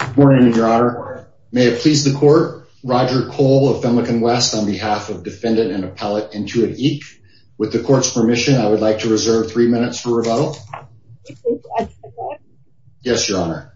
Good morning, Your Honor. May it please the court, Roger Cole of Femlecon West on behalf of defendant and appellate Intuit, Inc. With the court's permission I would like to reserve three minutes for rebuttal. Yes, Your Honor.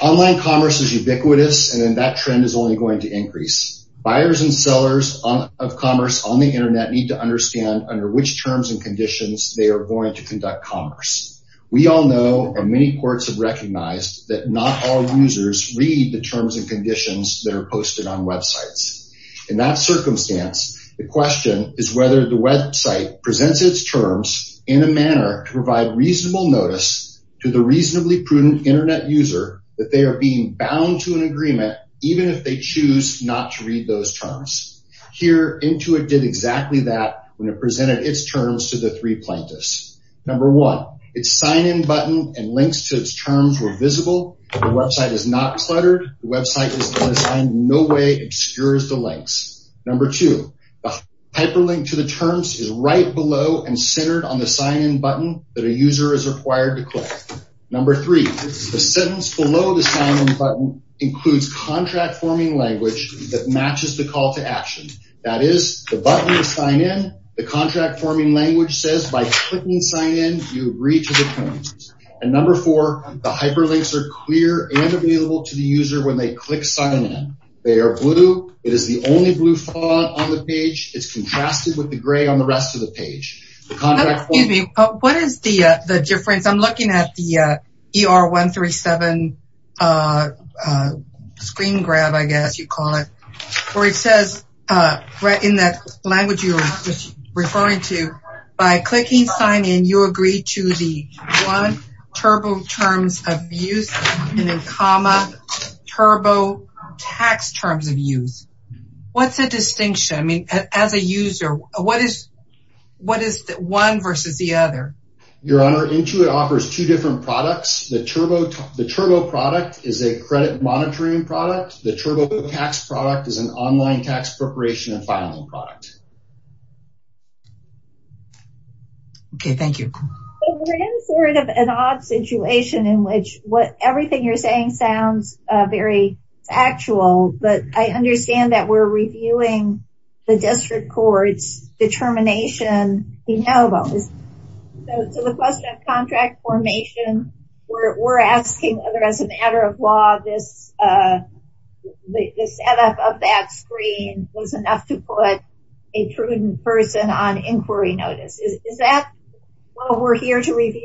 Online commerce is ubiquitous and that trend is only going to increase. Buyers and sellers of commerce on the internet need to understand under which terms and conditions they are going to conduct commerce. We all know and many courts have not all users read the terms and conditions that are posted on websites. In that circumstance the question is whether the website presents its terms in a manner to provide reasonable notice to the reasonably prudent internet user that they are being bound to an agreement even if they choose not to read those terms. Here Intuit did exactly that when it presented its terms to the three plaintiffs. Number one, its sign-in button and links to its terms were visible. The website is not cluttered. The website is designed in no way obscures the links. Number two, the hyperlink to the terms is right below and centered on the sign-in button that a user is required to click. Number three, the sentence below the sign-in button includes contract forming language that matches the call to action. That is, the button to sign in, the contract forming language says by clicking sign in you read to the terms. And number four, the hyperlinks are clear and available to the user when they click sign in. They are blue. It is the only blue font on the page. It's contrasted with the gray on the rest of the page. Excuse me, what is the difference? I'm looking at the ER 137 screen grab, I guess you call it, where it says right in that language you're referring to by clicking sign in you agree to the one turbo terms of use and then comma turbo tax terms of use. What's the distinction? I mean, as a user, what is what is the one versus the other? Your Honor, Intuit offers two different products. The turbo product is a credit monitoring product. The turbo tax product is an online tax preparation and filing product. Okay, thank you. We're in sort of an odd situation in which what everything you're saying sounds very factual, but I understand that we're reviewing the district court's determination, we know about this. So the question of contract formation, we're asking whether as a of that screen was enough to put a prudent person on inquiry notice. Is that what we're here to review?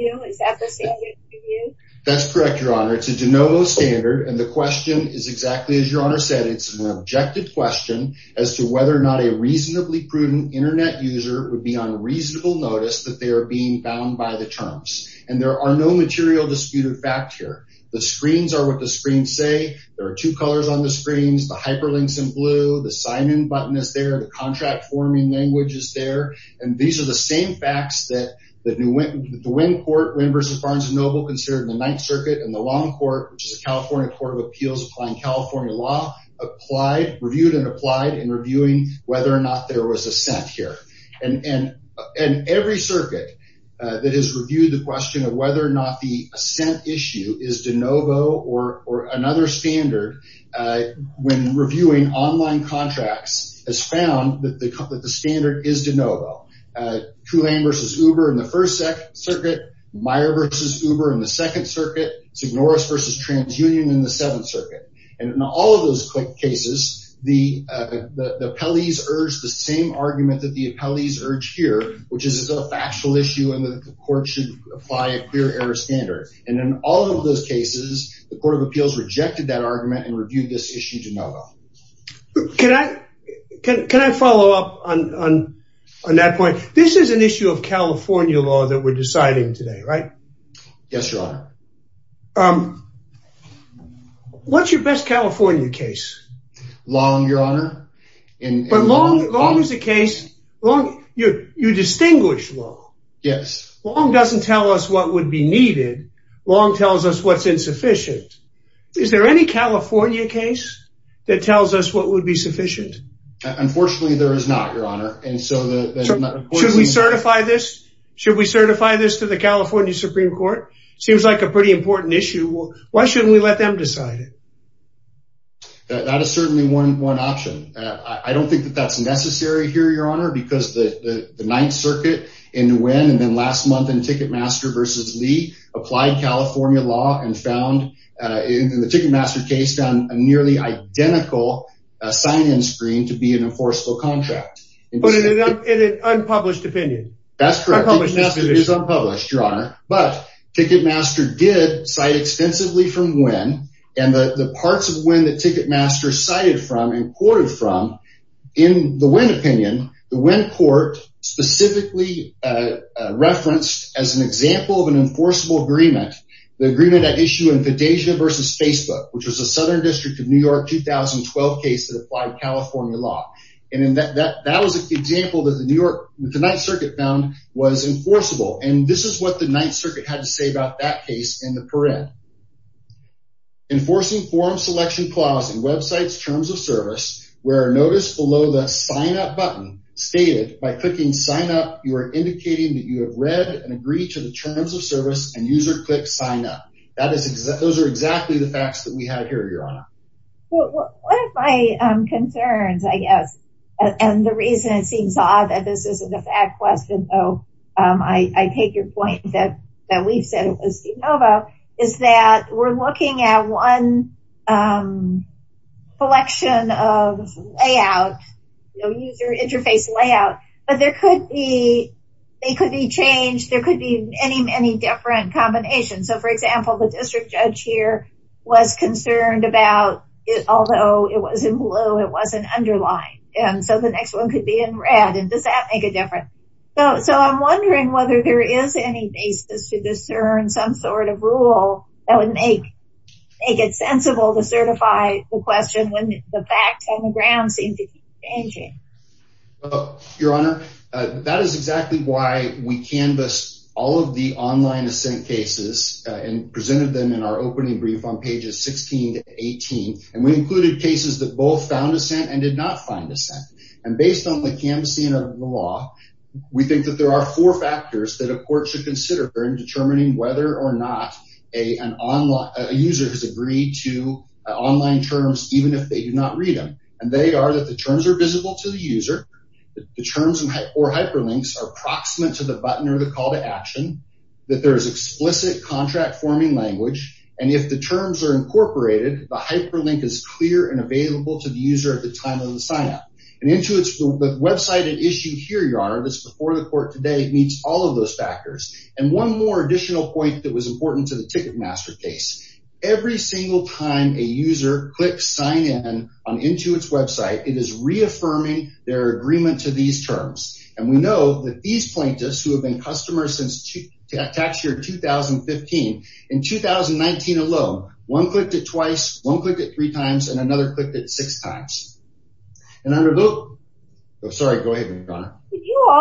That's correct, Your Honor. It's a de novo standard and the question is exactly as Your Honor said. It's an objective question as to whether or not a reasonably prudent internet user would be on reasonable notice that they are being bound by the terms. And there are no material disputed fact here. The screens are what the screens say. There are two colors on the screens. The hyperlinks in blue, the sign-in button is there, the contract forming language is there. And these are the same facts that the DeWin court, DeWin v. Barnes & Noble considered in the Ninth Circuit and the Long Court, which is a California Court of Appeals applying California law, reviewed and applied in reviewing whether or not there was assent here. And every circuit that has reviewed the question of whether or not the assent issue is de novo or another standard when reviewing online contracts has found that the standard is de novo. Tulane v. Uber in the First Circuit, Meyer v. Uber in the Second Circuit, St. Norris v. TransUnion in the Seventh Circuit. And in all of those cases, the appellees urged the same argument that the appellees urged here, which is it's a factual issue and that the court should apply a clear error standard. And in all of those cases, the Court of Appeals rejected that argument and reviewed this issue de novo. Can I follow up on that point? This is an issue of California law that we're deciding today, right? Yes, Your Honor. What's your best California case? Long, Your Honor. But Long is a case, Long, you distinguish Long. Yes. Long doesn't tell us what would be needed, Long tells us what's insufficient. Is there any California case that tells us what would be sufficient? Unfortunately, there is not, Your Honor. Should we certify this? Should we certify this to the California Supreme Court? Seems like a pretty important issue. Why shouldn't we let them decide it? That is certainly one option. I don't think that that's necessary here, Your Honor, because the Ninth Circuit in Nguyen and then last month in Ticketmaster v. Lee applied California law and found, in the Ticketmaster case, found a nearly identical sign-in screen to be an enforceable contract. But it is an unpublished opinion. That's correct. It is unpublished, Your Honor. But Ticketmaster did cite extensively from Nguyen and the parts of Nguyen that Ticketmaster cited from and quoted from in the Nguyen opinion, the Nguyen court specifically referenced as an example of an enforceable agreement, the agreement at issue in Fantasia v. Facebook, which was a Southern District of New York 2012 case that applied California law. And in that, that was an example that the New York, the Ninth Circuit found was enforceable. And this is what the Ninth Circuit had to say about that case in the Paret. Enforcing forum selection clause in websites terms of service, where notice below the sign up button stated by clicking sign up, you are indicating that you have read and agreed to the terms of service and user click sign up. That is, those are exactly the facts that we have here, Your Honor. One of my concerns, I guess, and the reason it seems odd that this isn't a fad question though, I take your point that we've said it was de novo, is that we're looking at one collection of layout, user interface layout, but there could be, they could be changed, there could be many, many different combinations. So for example, the district judge here was concerned about it, although it was in blue, it wasn't underlined. And so the next one could be in red. And does that make a difference? So I'm wondering whether there is any basis to discern some sort of rule that would make it sensible to certify the question when the facts on the ground seem to be changing. Your Honor, that is exactly why we canvassed all of the online assent cases and presented them in our opening brief on pages 16 to 18, and we included cases that both found assent and did not find assent. And based on the canvassing of the law, we think that there are four factors that a court should consider in determining whether or not a user has agreed to online terms, even if they do not read them. And they are that the terms are visible to the user, the terms or hyperlinks are proximate to the button or the call to action, that there is explicit contract forming language, and if the terms are incorporated, the hyperlink is clear and available to the user at the time of the sign-up. And into its website and issue here, Your Honor, that's before the court today meets all of those factors. And one more additional point that was important to the ticket master case. Every single time a user clicks sign in on into its website, it is reaffirming their agreement to these terms. And we know that these plaintiffs who have been customers since tax year 2015, in 2019 alone, one clicked it twice, one clicked it three times, and another clicked it six times. And I'm sorry, go to the next slide, please. Yes, Your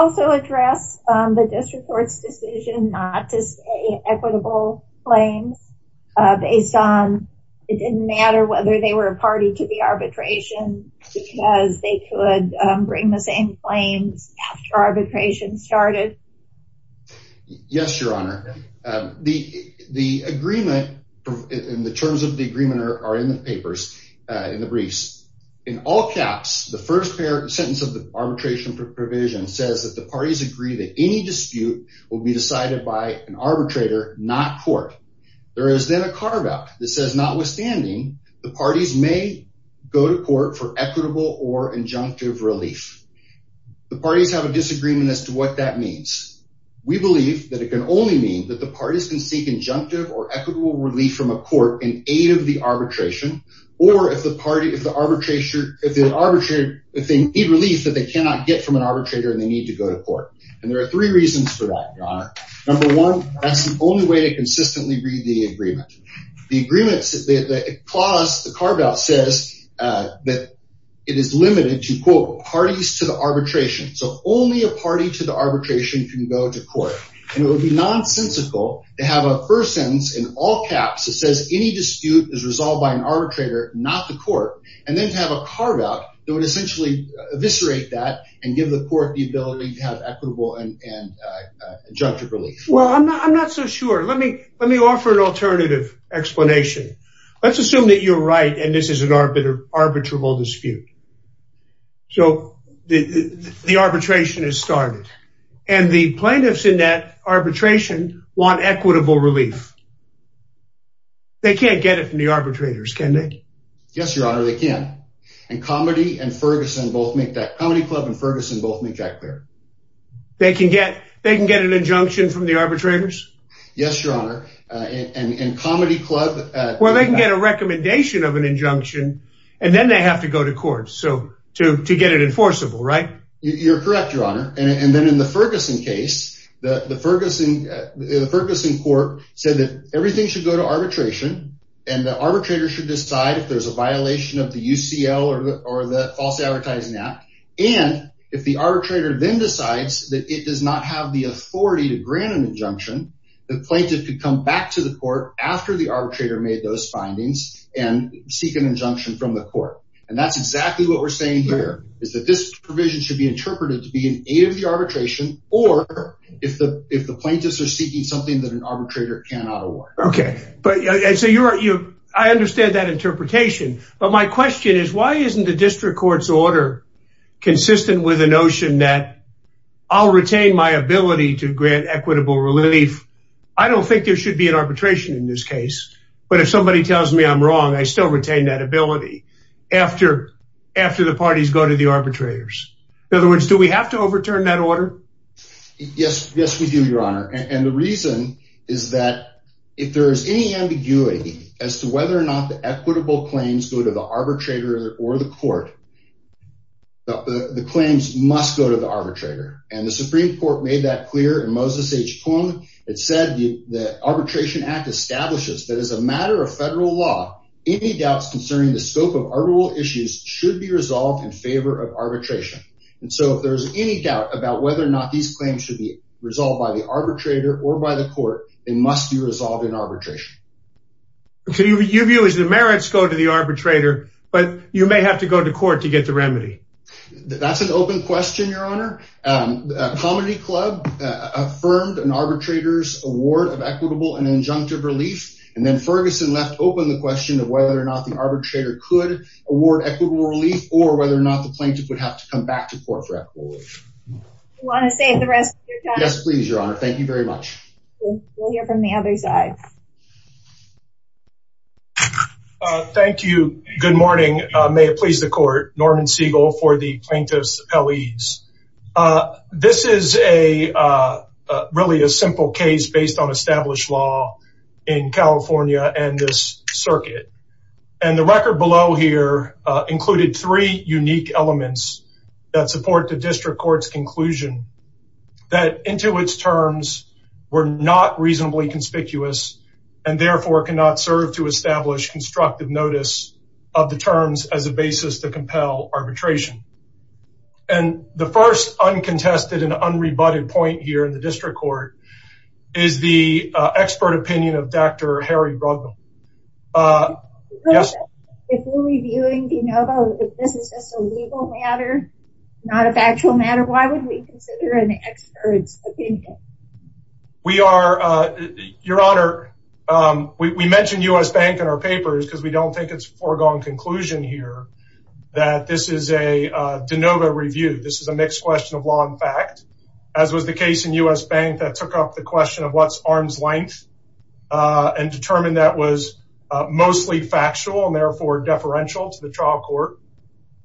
Honor. The agreement in the terms of the agreement are in the papers, in the briefs. In all caps, the first sentence of the arbitration provision says that parties agree that any dispute will be decided by an arbitrator, not court. There is then a carve-out that says, notwithstanding, the parties may go to court for equitable or injunctive relief. The parties have a disagreement as to what that means. We believe that it can only mean that the parties can seek injunctive or equitable relief from a court in aid of the arbitration, or if the party, if the arbitrator, if they need relief that they need to go to court. And there are three reasons for that, Your Honor. Number one, that's the only way to consistently read the agreement. The agreement, the clause, the carve-out says that it is limited to, quote, parties to the arbitration. So only a party to the arbitration can go to court. And it would be nonsensical to have a first sentence in all caps that says any dispute is resolved by an arbitrator, not the court, and then to have a carve-out that would essentially eviscerate that and give the court the ability to have equitable and injunctive relief. Well, I'm not so sure. Let me offer an alternative explanation. Let's assume that you're right and this is an arbitral dispute. So the arbitration is started and the plaintiffs in that arbitration want equitable relief. They can't get it from the arbitrators, can they? Yes, Your Honor, they can. And Comedy and Ferguson both make that, Comedy Club and Ferguson both make that clear. They can get an injunction from the arbitrators? Yes, Your Honor. And Comedy Club... Well, they can get a recommendation of an injunction and then they have to go to court to get it enforceable, right? You're correct, Your Honor. And then in the Ferguson case, the Ferguson court said that everything should go to arbitration and the arbitrator should be able to make a decision that is in violation of the UCL or the False Advertising Act. And if the arbitrator then decides that it does not have the authority to grant an injunction, the plaintiff could come back to the court after the arbitrator made those findings and seek an injunction from the court. And that's exactly what we're saying here is that this provision should be interpreted to be an aid of the arbitration or if the plaintiffs are seeking something that an arbitrator cannot award. Okay, but I understand that interpretation. But my question is, why isn't the district court's order consistent with the notion that I'll retain my ability to grant equitable relief? I don't think there should be an arbitration in this case. But if somebody tells me I'm wrong, I still retain that ability after the parties go to the arbitrators. In other words, do we have to overturn that order? Yes, yes, we do, Your Honor. And the reason is that if there is any ambiguity as to whether or not the equitable claims go to the arbitrator or the court, the claims must go to the arbitrator. And the Supreme Court made that clear in Moses H. Poong. It said the Arbitration Act establishes that as a matter of federal law, any doubts concerning the scope of arbitral issues should be resolved in favor of arbitration. And so if there's any doubt about whether or not these claims should be resolved by the arbitrator or by the court, they must be resolved in arbitration. So your view is the merits go to the arbitrator, but you may have to go to court to get the remedy. That's an open question, Your Honor. Comedy Club affirmed an arbitrator's award of equitable and injunctive relief. And then Ferguson left open the question of whether or not the arbitrator could award equitable relief or whether or not the plaintiff would have to come back to court for equitable relief. You want to say the rest of your time? Yes, please, Your Honor. Thank you very much. We'll hear from the other side. Thank you. Good morning. May it please the court. Norman Siegel for the Plaintiff's Appellees. This is a really a simple case based on established law in California and this circuit. And the record below here included three unique elements that support the district court's conclusion that into its terms were not reasonably conspicuous. And therefore, it cannot serve to establish constructive notice of the terms as a basis to compel arbitration. And the first uncontested and unrebutted point here in the district court is the expert opinion of Dr. Harry Bruggem. If we're reviewing de novo, if this is just a legal matter, not a factual matter, why would we consider an expert's opinion? We are, Your Honor, we mentioned U.S. Bank in our papers because we don't think it's foregone conclusion here that this is a de novo review. This is a mixed question of law and fact, as was the case in U.S. Bank that took up the question of what's arm's length and determined that was mostly factual and therefore deferential to the trial court.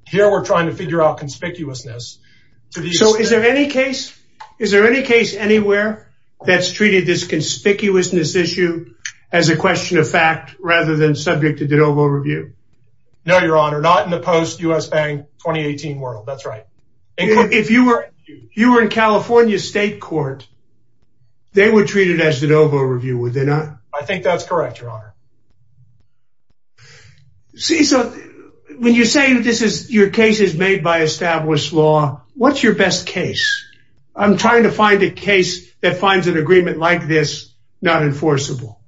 Here, we're trying to figure out conspicuousness. So is there any case, is there any case anywhere that's treated this conspicuousness issue as a question of fact rather than subject to de novo review? No, Your Honor, not in the post-U.S. Bank 2018 world, that's right. If you were in California State Court, they would treat it as de novo review, would they not? I think that's correct, Your Honor. See, so when you're saying that this is, your case is made by established law, what's your best case? I'm trying to find a case that finds an agreement like this not enforceable.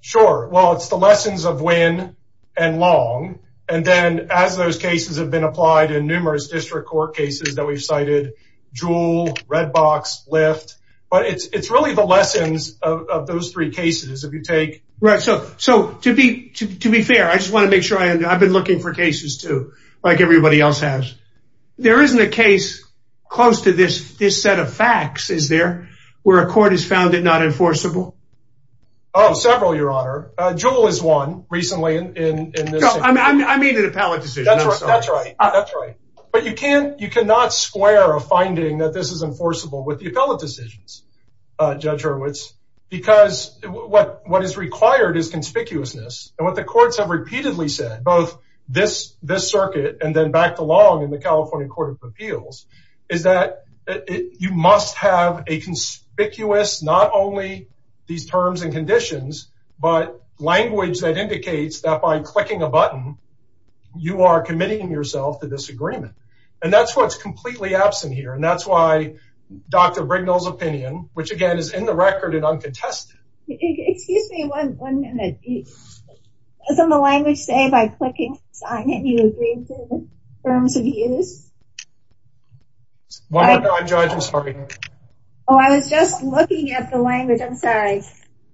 Sure, well, it's the lessons of when and long, and then as those cases have been applied in numerous district court cases that we've cited, Juul, Redbox, Lyft, but it's really the lessons of those three cases if you take... Right, so to be fair, I just want to make sure, I've been looking for cases too, like everybody else has. There isn't a case close to this set of facts, is there, where a court has found it not enforceable? Oh, several, Your Honor. Juul is one recently in this... No, I mean an appellate decision, I'm sorry. That's right, that's right. But you cannot square a finding that this is enforceable with the appellate decisions, Judge Hurwitz, because what is required is conspicuousness, and what the courts have repeatedly said, both this circuit and then back to Long in the California Court of Appeals, is that you must have a conspicuous, not only these terms and conditions, but language that indicates that by clicking a button, you are committing yourself to disagreement, and that's what's completely absent here, and that's why Dr. Rignell's opinion, which again is in the record and uncontested. Excuse me, one minute. Doesn't the language say by clicking sign in, you agree to terms of use? One moment, Judge, I'm sorry. Oh, I was just looking at the language, I'm sorry.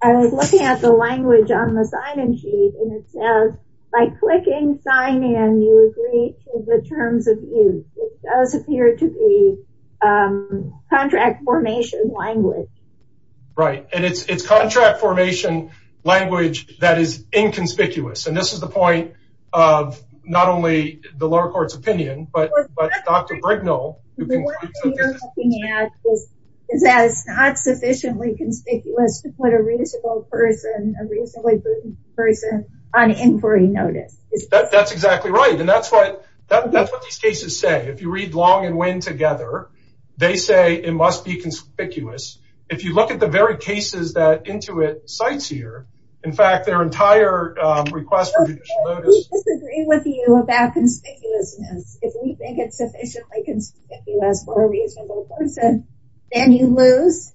I was looking at the language on the sign-in sheet, and it says by clicking sign in, you agree to the terms of use. It does appear to be contract formation language. Right, and it's contract formation language that is inconspicuous, and this is the point of not only the lower court's opinion, but Dr. Rignell. The one thing you're looking at is that it's not sufficiently conspicuous to put a reasonable person, a reasonably proven person, on inquiry notice. That's exactly right, and that's what these cases say. If you read Long and Winn together, they say it must be conspicuous. If you look at the very cases that Intuit cites here, in fact, their entire request for judicial notice- We disagree with you about conspicuousness. If we think it's sufficiently conspicuous for a reasonable person, then you lose?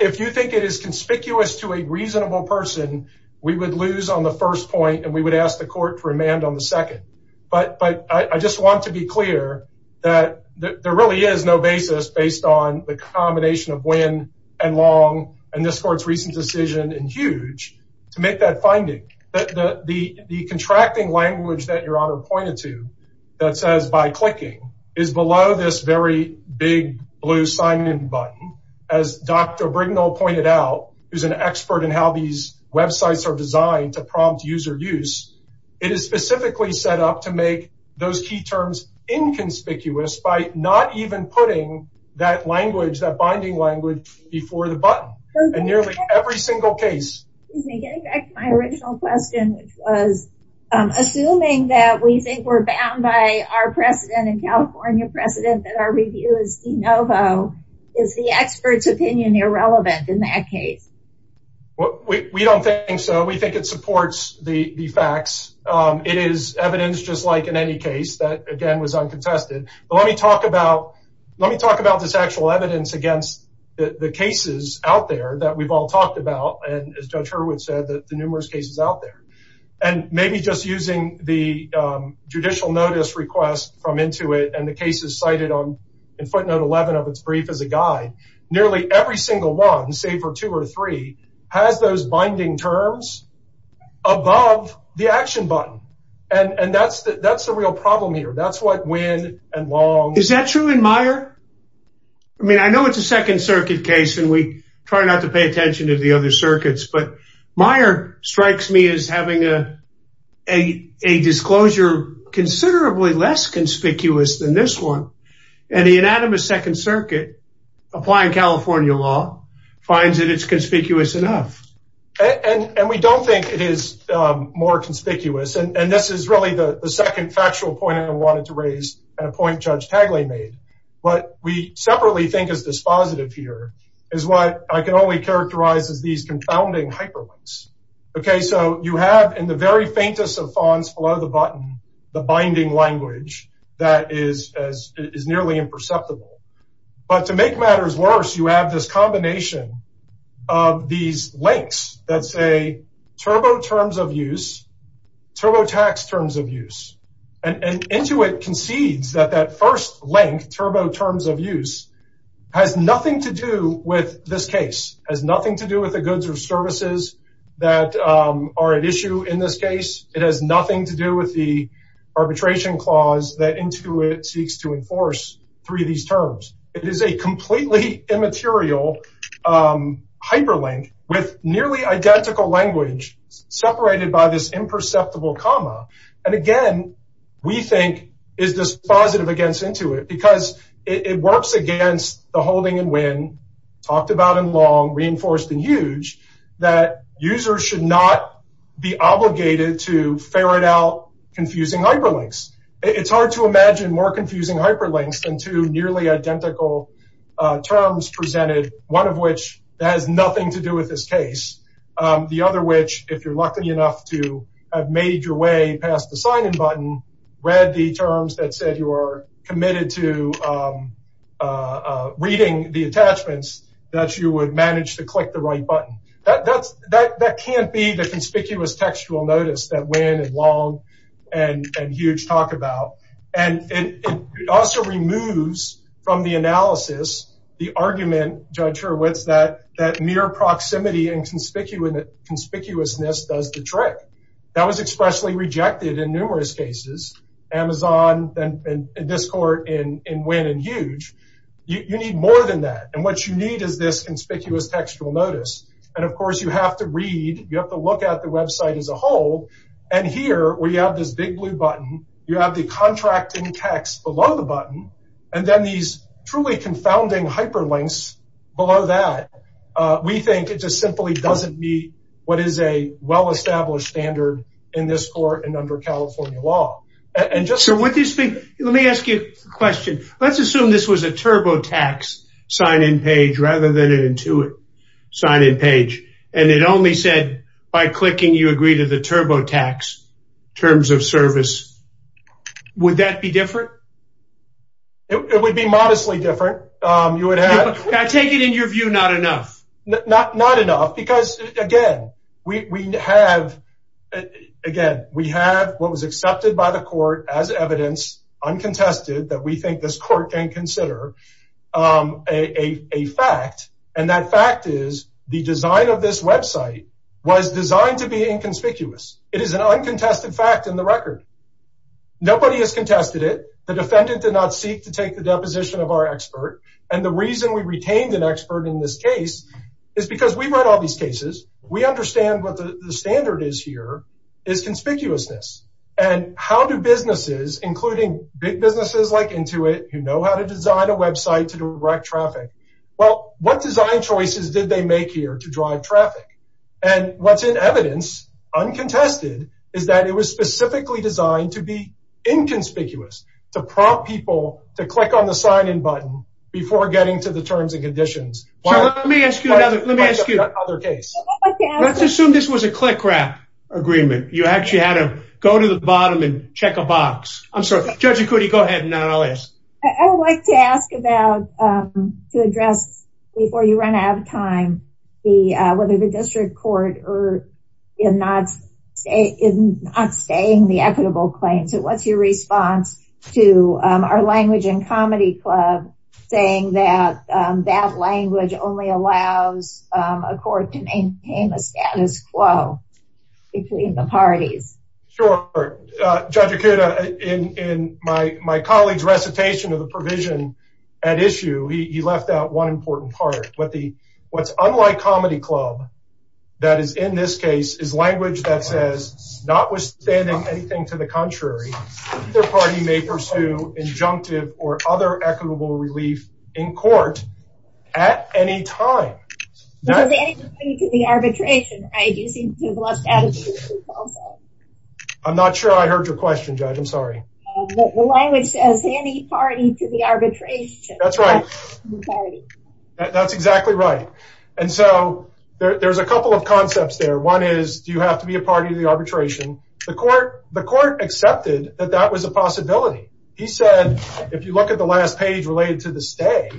If you think it is conspicuous to a reasonable person, we would lose on the first point, and we would ask the court for amand on the second. But I just want to be clear that there really is no basis based on the combination of Winn and Long and this court's recent decision in Huge to make that finding. The contracting language that your honor pointed to that says by clicking is below this very big blue sign-in button, as Dr. Brignull pointed out, who's an expert in how these websites are designed to prompt user use, it is specifically set up to make those key terms inconspicuous by not even putting that language, that binding language, before the button in nearly every single case. Getting back to my original question, which was assuming that we think we're bound by our precedent and California precedent that our review is de novo, is the expert's opinion irrelevant in that case? Well, we don't think so. We think it supports the facts. It is evidence just like in any case that, again, was uncontested. But let me talk about this actual evidence against the cases out there that we've all talked about, and as Judge Hurwitz said, the numerous cases out there. And maybe just using the judicial notice request from Intuit and the cases cited in footnote 11 of its brief as a guide, nearly every single one, save for two or three, has those binding terms above the action button. And that's the real problem here. That's what Winn and Long... Is that true in Meyer? I mean, I know it's a Second Circuit case, and we try not to pay attention to the other a disclosure considerably less conspicuous than this one. And the unanimous Second Circuit, applying California law, finds that it's conspicuous enough. And we don't think it is more conspicuous. And this is really the second factual point I wanted to raise, and a point Judge Tagle made. What we separately think is dispositive here is what I can only characterize as these confounding hyperlinks. Okay, so you have in the very faintest of fonts below the button, the binding language that is nearly imperceptible. But to make matters worse, you have this combination of these links that say turbo terms of use, turbo tax terms of use. And Intuit concedes that that first link, turbo terms of use, has nothing to do with this case, has nothing to do with the goods or services that are at issue in this case. It has nothing to do with the arbitration clause that Intuit seeks to enforce through these terms. It is a completely immaterial hyperlink with nearly identical language separated by this imperceptible comma. And again, we think is dispositive against Intuit because it works against the holding and win, talked about in long, reinforced in huge, that users should not be obligated to ferret out confusing hyperlinks. It's hard to imagine more confusing hyperlinks than two nearly identical terms presented, one of which has nothing to do with this case, the other which, if you're lucky enough to have made your way past the sign-in button, read the terms that said you are committed to reading the attachments that you would manage to click the right button. That can't be the conspicuous textual notice that win and long and huge talk about. And it also removes from the analysis the argument, Judge Hurwitz, that mere proximity and conspicuousness does the trick. That was expressly rejected in numerous cases. Amazon and this court in win and huge, you need more than that. And what you need is this conspicuous textual notice. And of course, you have to read, you have to look at the website as a whole. And here, we have this big blue button. You have the contracting text below the button. And then these truly confounding hyperlinks below that, we think it just simply doesn't meet what is a well-established standard in this court and under California law. So with this, let me ask you a question. Let's assume this was a TurboTax sign-in page rather than an Intuit sign-in page. And it only said, by clicking, you agree to the TurboTax terms of service. Would that be different? It would be modestly different. I take it in your view, not enough. Not enough. Again, we have what was accepted by the court as evidence, uncontested, that we think this court can consider a fact. And that fact is the design of this website was designed to be inconspicuous. It is an uncontested fact in the record. Nobody has contested it. The defendant did not seek to take the deposition of our expert. And the reason we retained an expert in this case is because we've read all these cases. We understand what the standard is here is conspicuousness. And how do businesses, including big businesses like Intuit, who know how to design a website to direct traffic, well, what design choices did they make here to drive traffic? And what's in evidence, uncontested, is that it was specifically designed to be inconspicuous, to prompt people to click on the sign-in button before getting to the terms and conditions. So let me ask you another case. Let's assume this was a click-wrap agreement. You actually had to go to the bottom and check a box. I'm sorry. Judge Ikuti, go ahead. And then I'll ask. I would like to ask about, to address before you run out of time, whether the district court erred in not staying the equitable claim. So what's your response to our Language and Comedy Club saying that that language only allows a court to maintain a status quo between the parties? Sure. Judge Ikuti, in my colleague's recitation of the provision at issue, he left out one important part. What's unlike Comedy Club, that is in this case, is language that says, notwithstanding anything to the contrary, either party may pursue injunctive or other equitable relief in court at any time. Does any party to the arbitration, right? You seem to have lost attitude also. I'm not sure I heard your question, Judge. I'm sorry. The language says, any party to the arbitration. That's right. Sorry. That's exactly right. And so there's a couple of concepts there. One is, do you have to be a party to the arbitration? The court accepted that that was a possibility. He said, if you look at the last page related to the stay,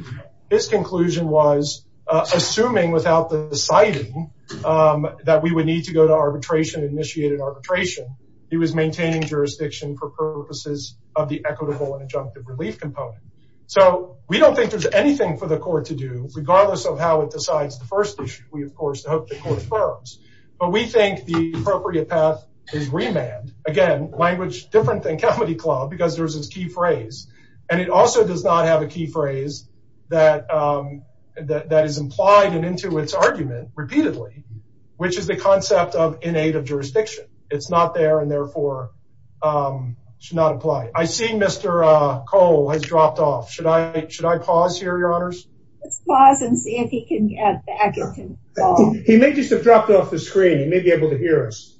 his conclusion was, assuming without the deciding that we would need to go to arbitration, initiated arbitration, he was maintaining jurisdiction for purposes of the equitable and injunctive relief component. So we don't think there's anything for the court to do, regardless of how it decides the first issue. We, of course, hope the court affirms. But we think the appropriate path is remand. Again, language different than Comedy Club, because there's this key phrase. And it also does not have a key phrase that is implied and into its argument repeatedly, which is the concept of innate of jurisdiction. It's not there, and therefore should not apply. I see Mr. Cole has dropped off. Should I pause here, Your Honors? Let's pause and see if he can get back. He may just have dropped off the screen. He may be able to hear us.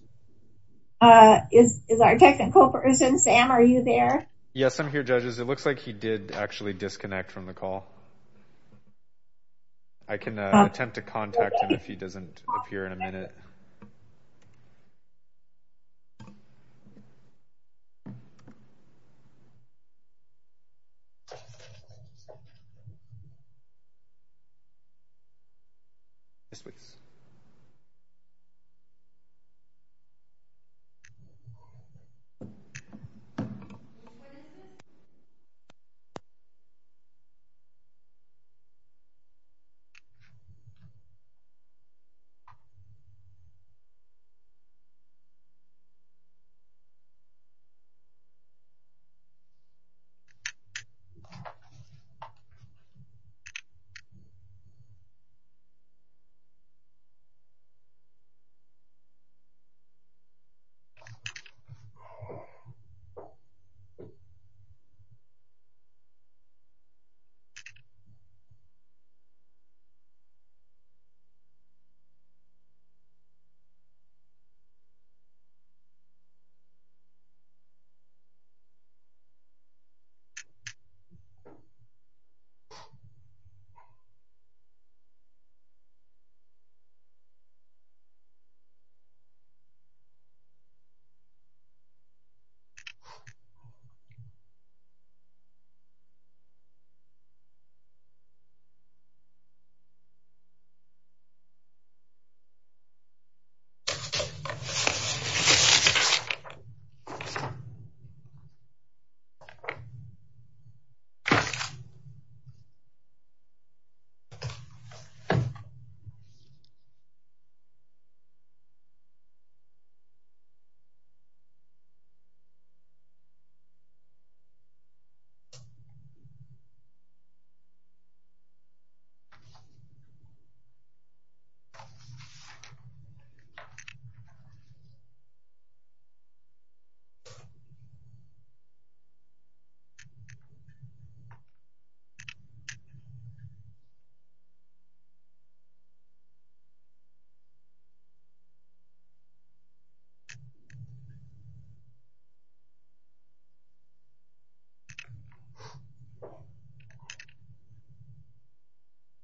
Is our technical person, Sam, are you there? Yes, I'm here, judges. It looks like he did actually disconnect from the call. I can attempt to contact him if he doesn't appear in a minute. Yes, please.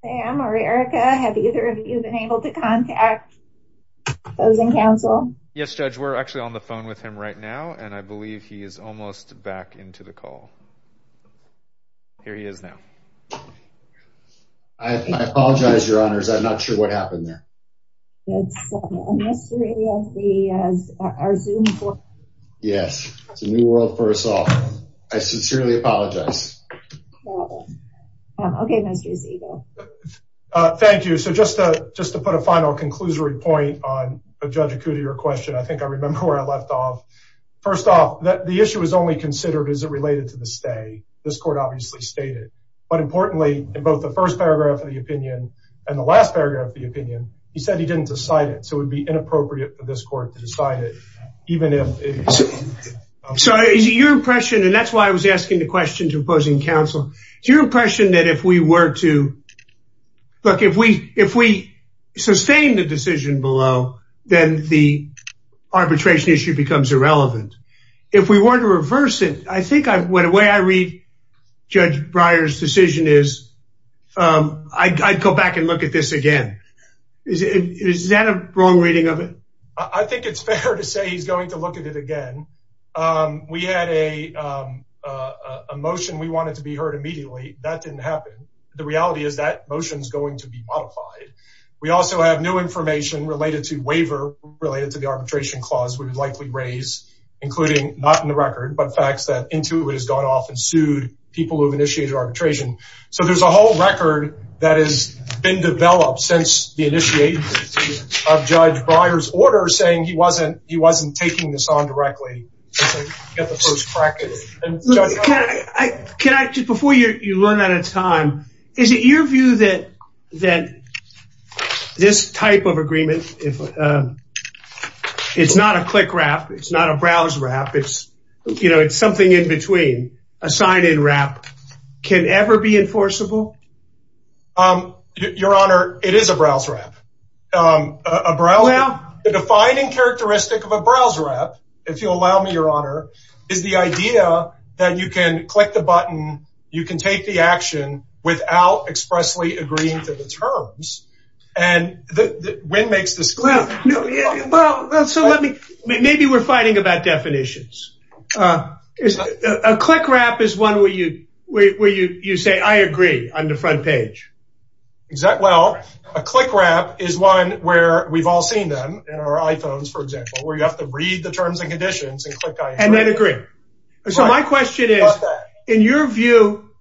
Sam or Erica, have either of you been able to contact Voting Council? Yes, Judge. We're actually on the phone with him right now. And I believe he is almost back into the call. Here he is now. I apologize, Your Honors. I'm not sure what happened there. It's a mystery of the Zoom forum. Yes, it's a new world for us all. I sincerely apologize. Okay, Mr. Ziegel. Thank you. So just to put a final conclusory point on Judge Akuda, your question, I think I remember where I left off. First off, the issue is only considered as it related to the stay. This court obviously stated. But importantly, in both the first paragraph of the opinion and the last paragraph of the opinion, he said he didn't decide it. So it would be inappropriate for this court to decide it, even if... So is your impression, and that's why I was asking the question to opposing counsel, is your impression that if we were to... Look, if we sustain the decision below, then the arbitration issue becomes irrelevant. If we were to reverse it, I think the way I read Judge Breyer's decision is, I'd go back and look at this again. Is that a wrong reading of it? I think it's fair to say he's going to look at it again. We had a motion we wanted to be heard immediately. That didn't happen. The reality is that motion is going to be modified. We also have new information related to waiver, related to the arbitration clause we would likely raise, including, not in the record, but facts that Intuit has gone off and sued people who have initiated arbitration. So there's a whole record that has been developed since the initiation of Judge Breyer's order saying he wasn't taking this on directly. Before you run out of time, is it your view that this type of agreement, it's not a click-wrap, it's not a browse-wrap, it's something in between, a sign-in wrap, can ever be enforceable? Your Honor, it is a browse-wrap. The defining characteristic of a browse-wrap, if you'll allow me, Your Honor, is the idea that you can click the button, you can take the action without expressly agreeing to the terms. Maybe we're fighting about definitions. A click-wrap is one where you say, I agree, on the front page. Well, a click-wrap is one where we've all seen them in our iPhones, for example, where you have to read the terms and conditions and click I agree. And then agree. So my question is, in your view,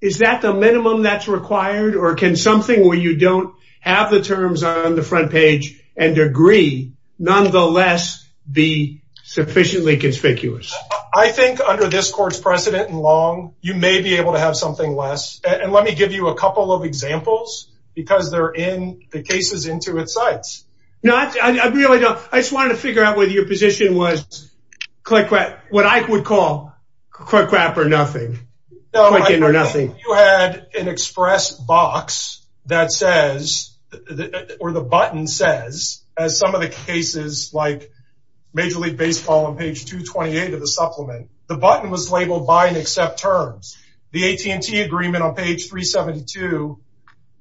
is that the minimum that's required? Or can something where you don't have the terms on the front page and agree nonetheless be sufficiently conspicuous? I think under this court's precedent and long, you may be able to have something less. And let me give you a couple of examples because they're in the cases into its sites. I just wanted to figure out whether your position was what I would call click-wrap or nothing. You had an express box that says, or the button says, as some of the cases like Major League Baseball on page 228 of the supplement, the button was labeled buy and accept terms. The AT&T agreement on page 372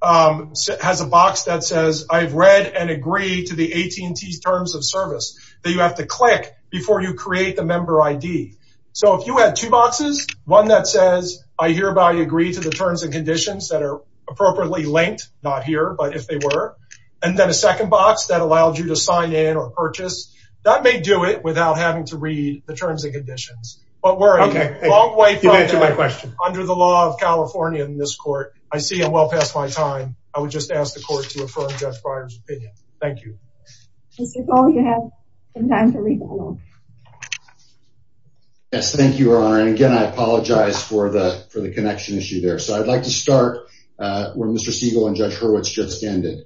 has a box that says, I've read and agree to the AT&T terms of service that you have to click before you create the member ID. So if you had two boxes, one that says, I hereby agree to the terms and conditions that are appropriately linked, not here, but if they were. And then a second box that allowed you to sign in or purchase. That may do it without having to read the terms and conditions. But we're a long way from there. Under the law of California in this court, I see I'm well past my time. I would just ask the court to affirm Judge Breyer's opinion. Thank you. Mr. Cole, you have some time to rebuttal. Yes, thank you, Your Honor. And again, I apologize for the connection issue there. So I'd like to start where Mr. Siegel and Judge Hurwitz just ended.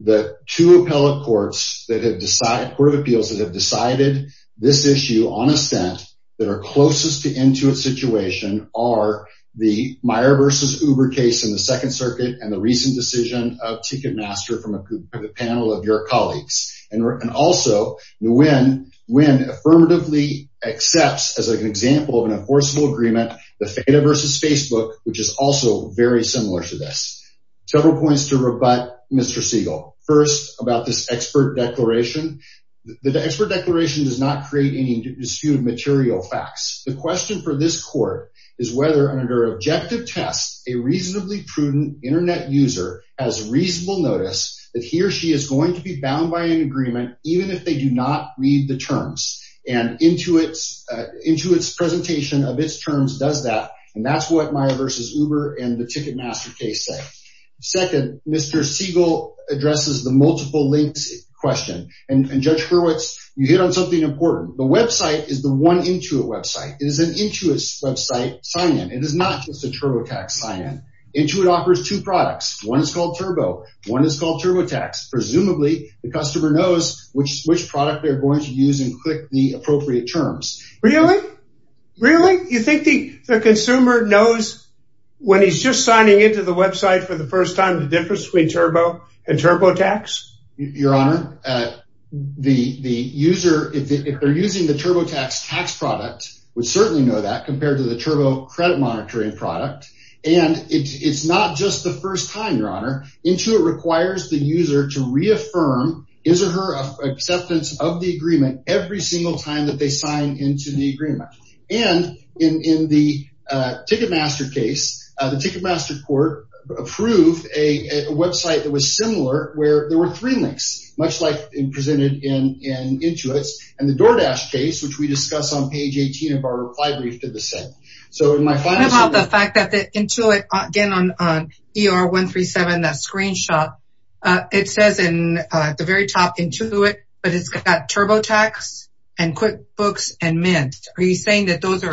The two appellate courts that have decided, court of appeals that have decided this issue on a stent that are closest to end to a situation are the Meyer versus Uber case in the Second Circuit and the recent decision of Ticketmaster from a panel of your colleagues. And also, Nguyen affirmatively accepts, as an example of an enforceable agreement, the FEDA versus Facebook, which is also very similar to this. Several points to rebut, Mr. Siegel. First, about this expert declaration. The expert declaration does not create any disputed material facts. The question for this court is whether, under objective tests, a reasonably prudent internet user has reasonable notice that he or she is going to be bound by an agreement, even if they do not read the terms. And Intuit's presentation of its terms does that. And that's what Meyer versus Uber and the Ticketmaster case say. Second, Mr. Siegel addresses the multiple links question. And Judge Hurwitz, you hit on something important. The website is the one Intuit website. It is an Intuit website sign-in. It is not just a TurboTax sign-in. Intuit offers two products. One is called Turbo. One is called TurboTax. Presumably, the customer knows which product they're going to use and click the appropriate terms. Really? Really? You think the consumer knows when he's just signing into the website for the first time the difference between Turbo and TurboTax? Your Honor, the user, if they're using the TurboTax tax product, would certainly know that compared to the Turbo credit monitoring product. And it's not just the first time, Your Honor. Intuit requires the user to reaffirm his or her acceptance of the agreement every single time that they sign into the agreement. And in the Ticketmaster case, the Ticketmaster court approved a website that was similar where there were three links, much like presented in Intuit's. And the DoorDash case, which we discussed on page 18 of our reply brief, did the same. So in my final... What about the fact that Intuit, again, on ER 137, that screenshot, it says in the very top, Intuit, but it's got TurboTax and QuickBooks and Mint. Are you saying that those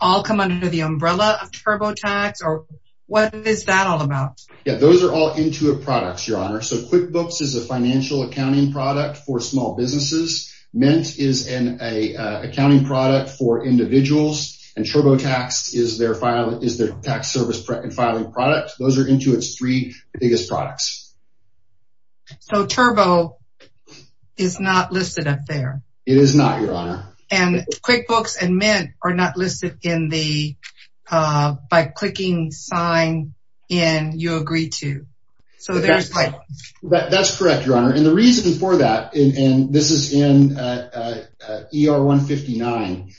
all come under the umbrella of TurboTax? Or what is that all about? Yeah, those are all Intuit products, Your Honor. So QuickBooks is a financial accounting product for small businesses. Mint is an accounting product for individuals. And TurboTax is their tax service filing product. Those are Intuit's three biggest products. So Turbo is not listed up there. It is not, Your Honor. And QuickBooks and Mint are not listed by clicking sign in you agree to. So there's like... That's correct, Your Honor. And the reason for that, and this is in ER 159,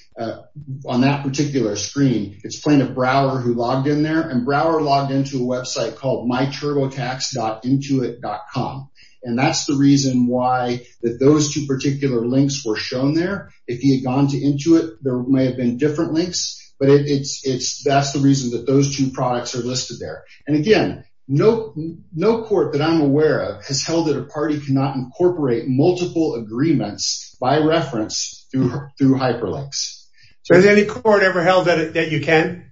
on that particular screen, it's plaintiff Brower who logged in there. And Brower logged into a website called myturbotax.intuit.com. And that's the reason why those two particular links were shown there. If he had gone to Intuit, there may have been different links. But that's the reason that those two products are listed there. And again, no court that I'm aware of has held that a party cannot incorporate multiple agreements by reference through Hyperlinks. Has any court ever held that you can?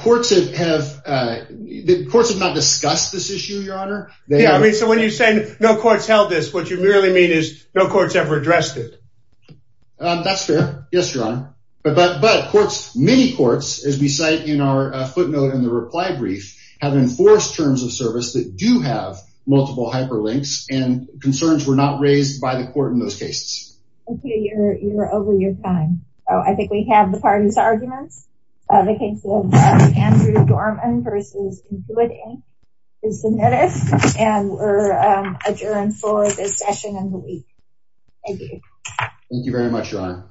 Courts have not discussed this issue, Your Honor. Yeah, I mean, so when you say no courts held this, what you really mean is no courts ever addressed it? That's fair. Yes, Your Honor. But courts, many courts, as we cite in our footnote in the reply brief, have enforced terms of service that do have multiple Hyperlinks, and concerns were not raised by the court in those cases. Okay, you're over your time. Oh, I think we have the parties' arguments. The case of Andrew Dorman versus Intuit Inc is submitted. And we're adjourned for this session of the week. Thank you. Thank you very much, Your Honor.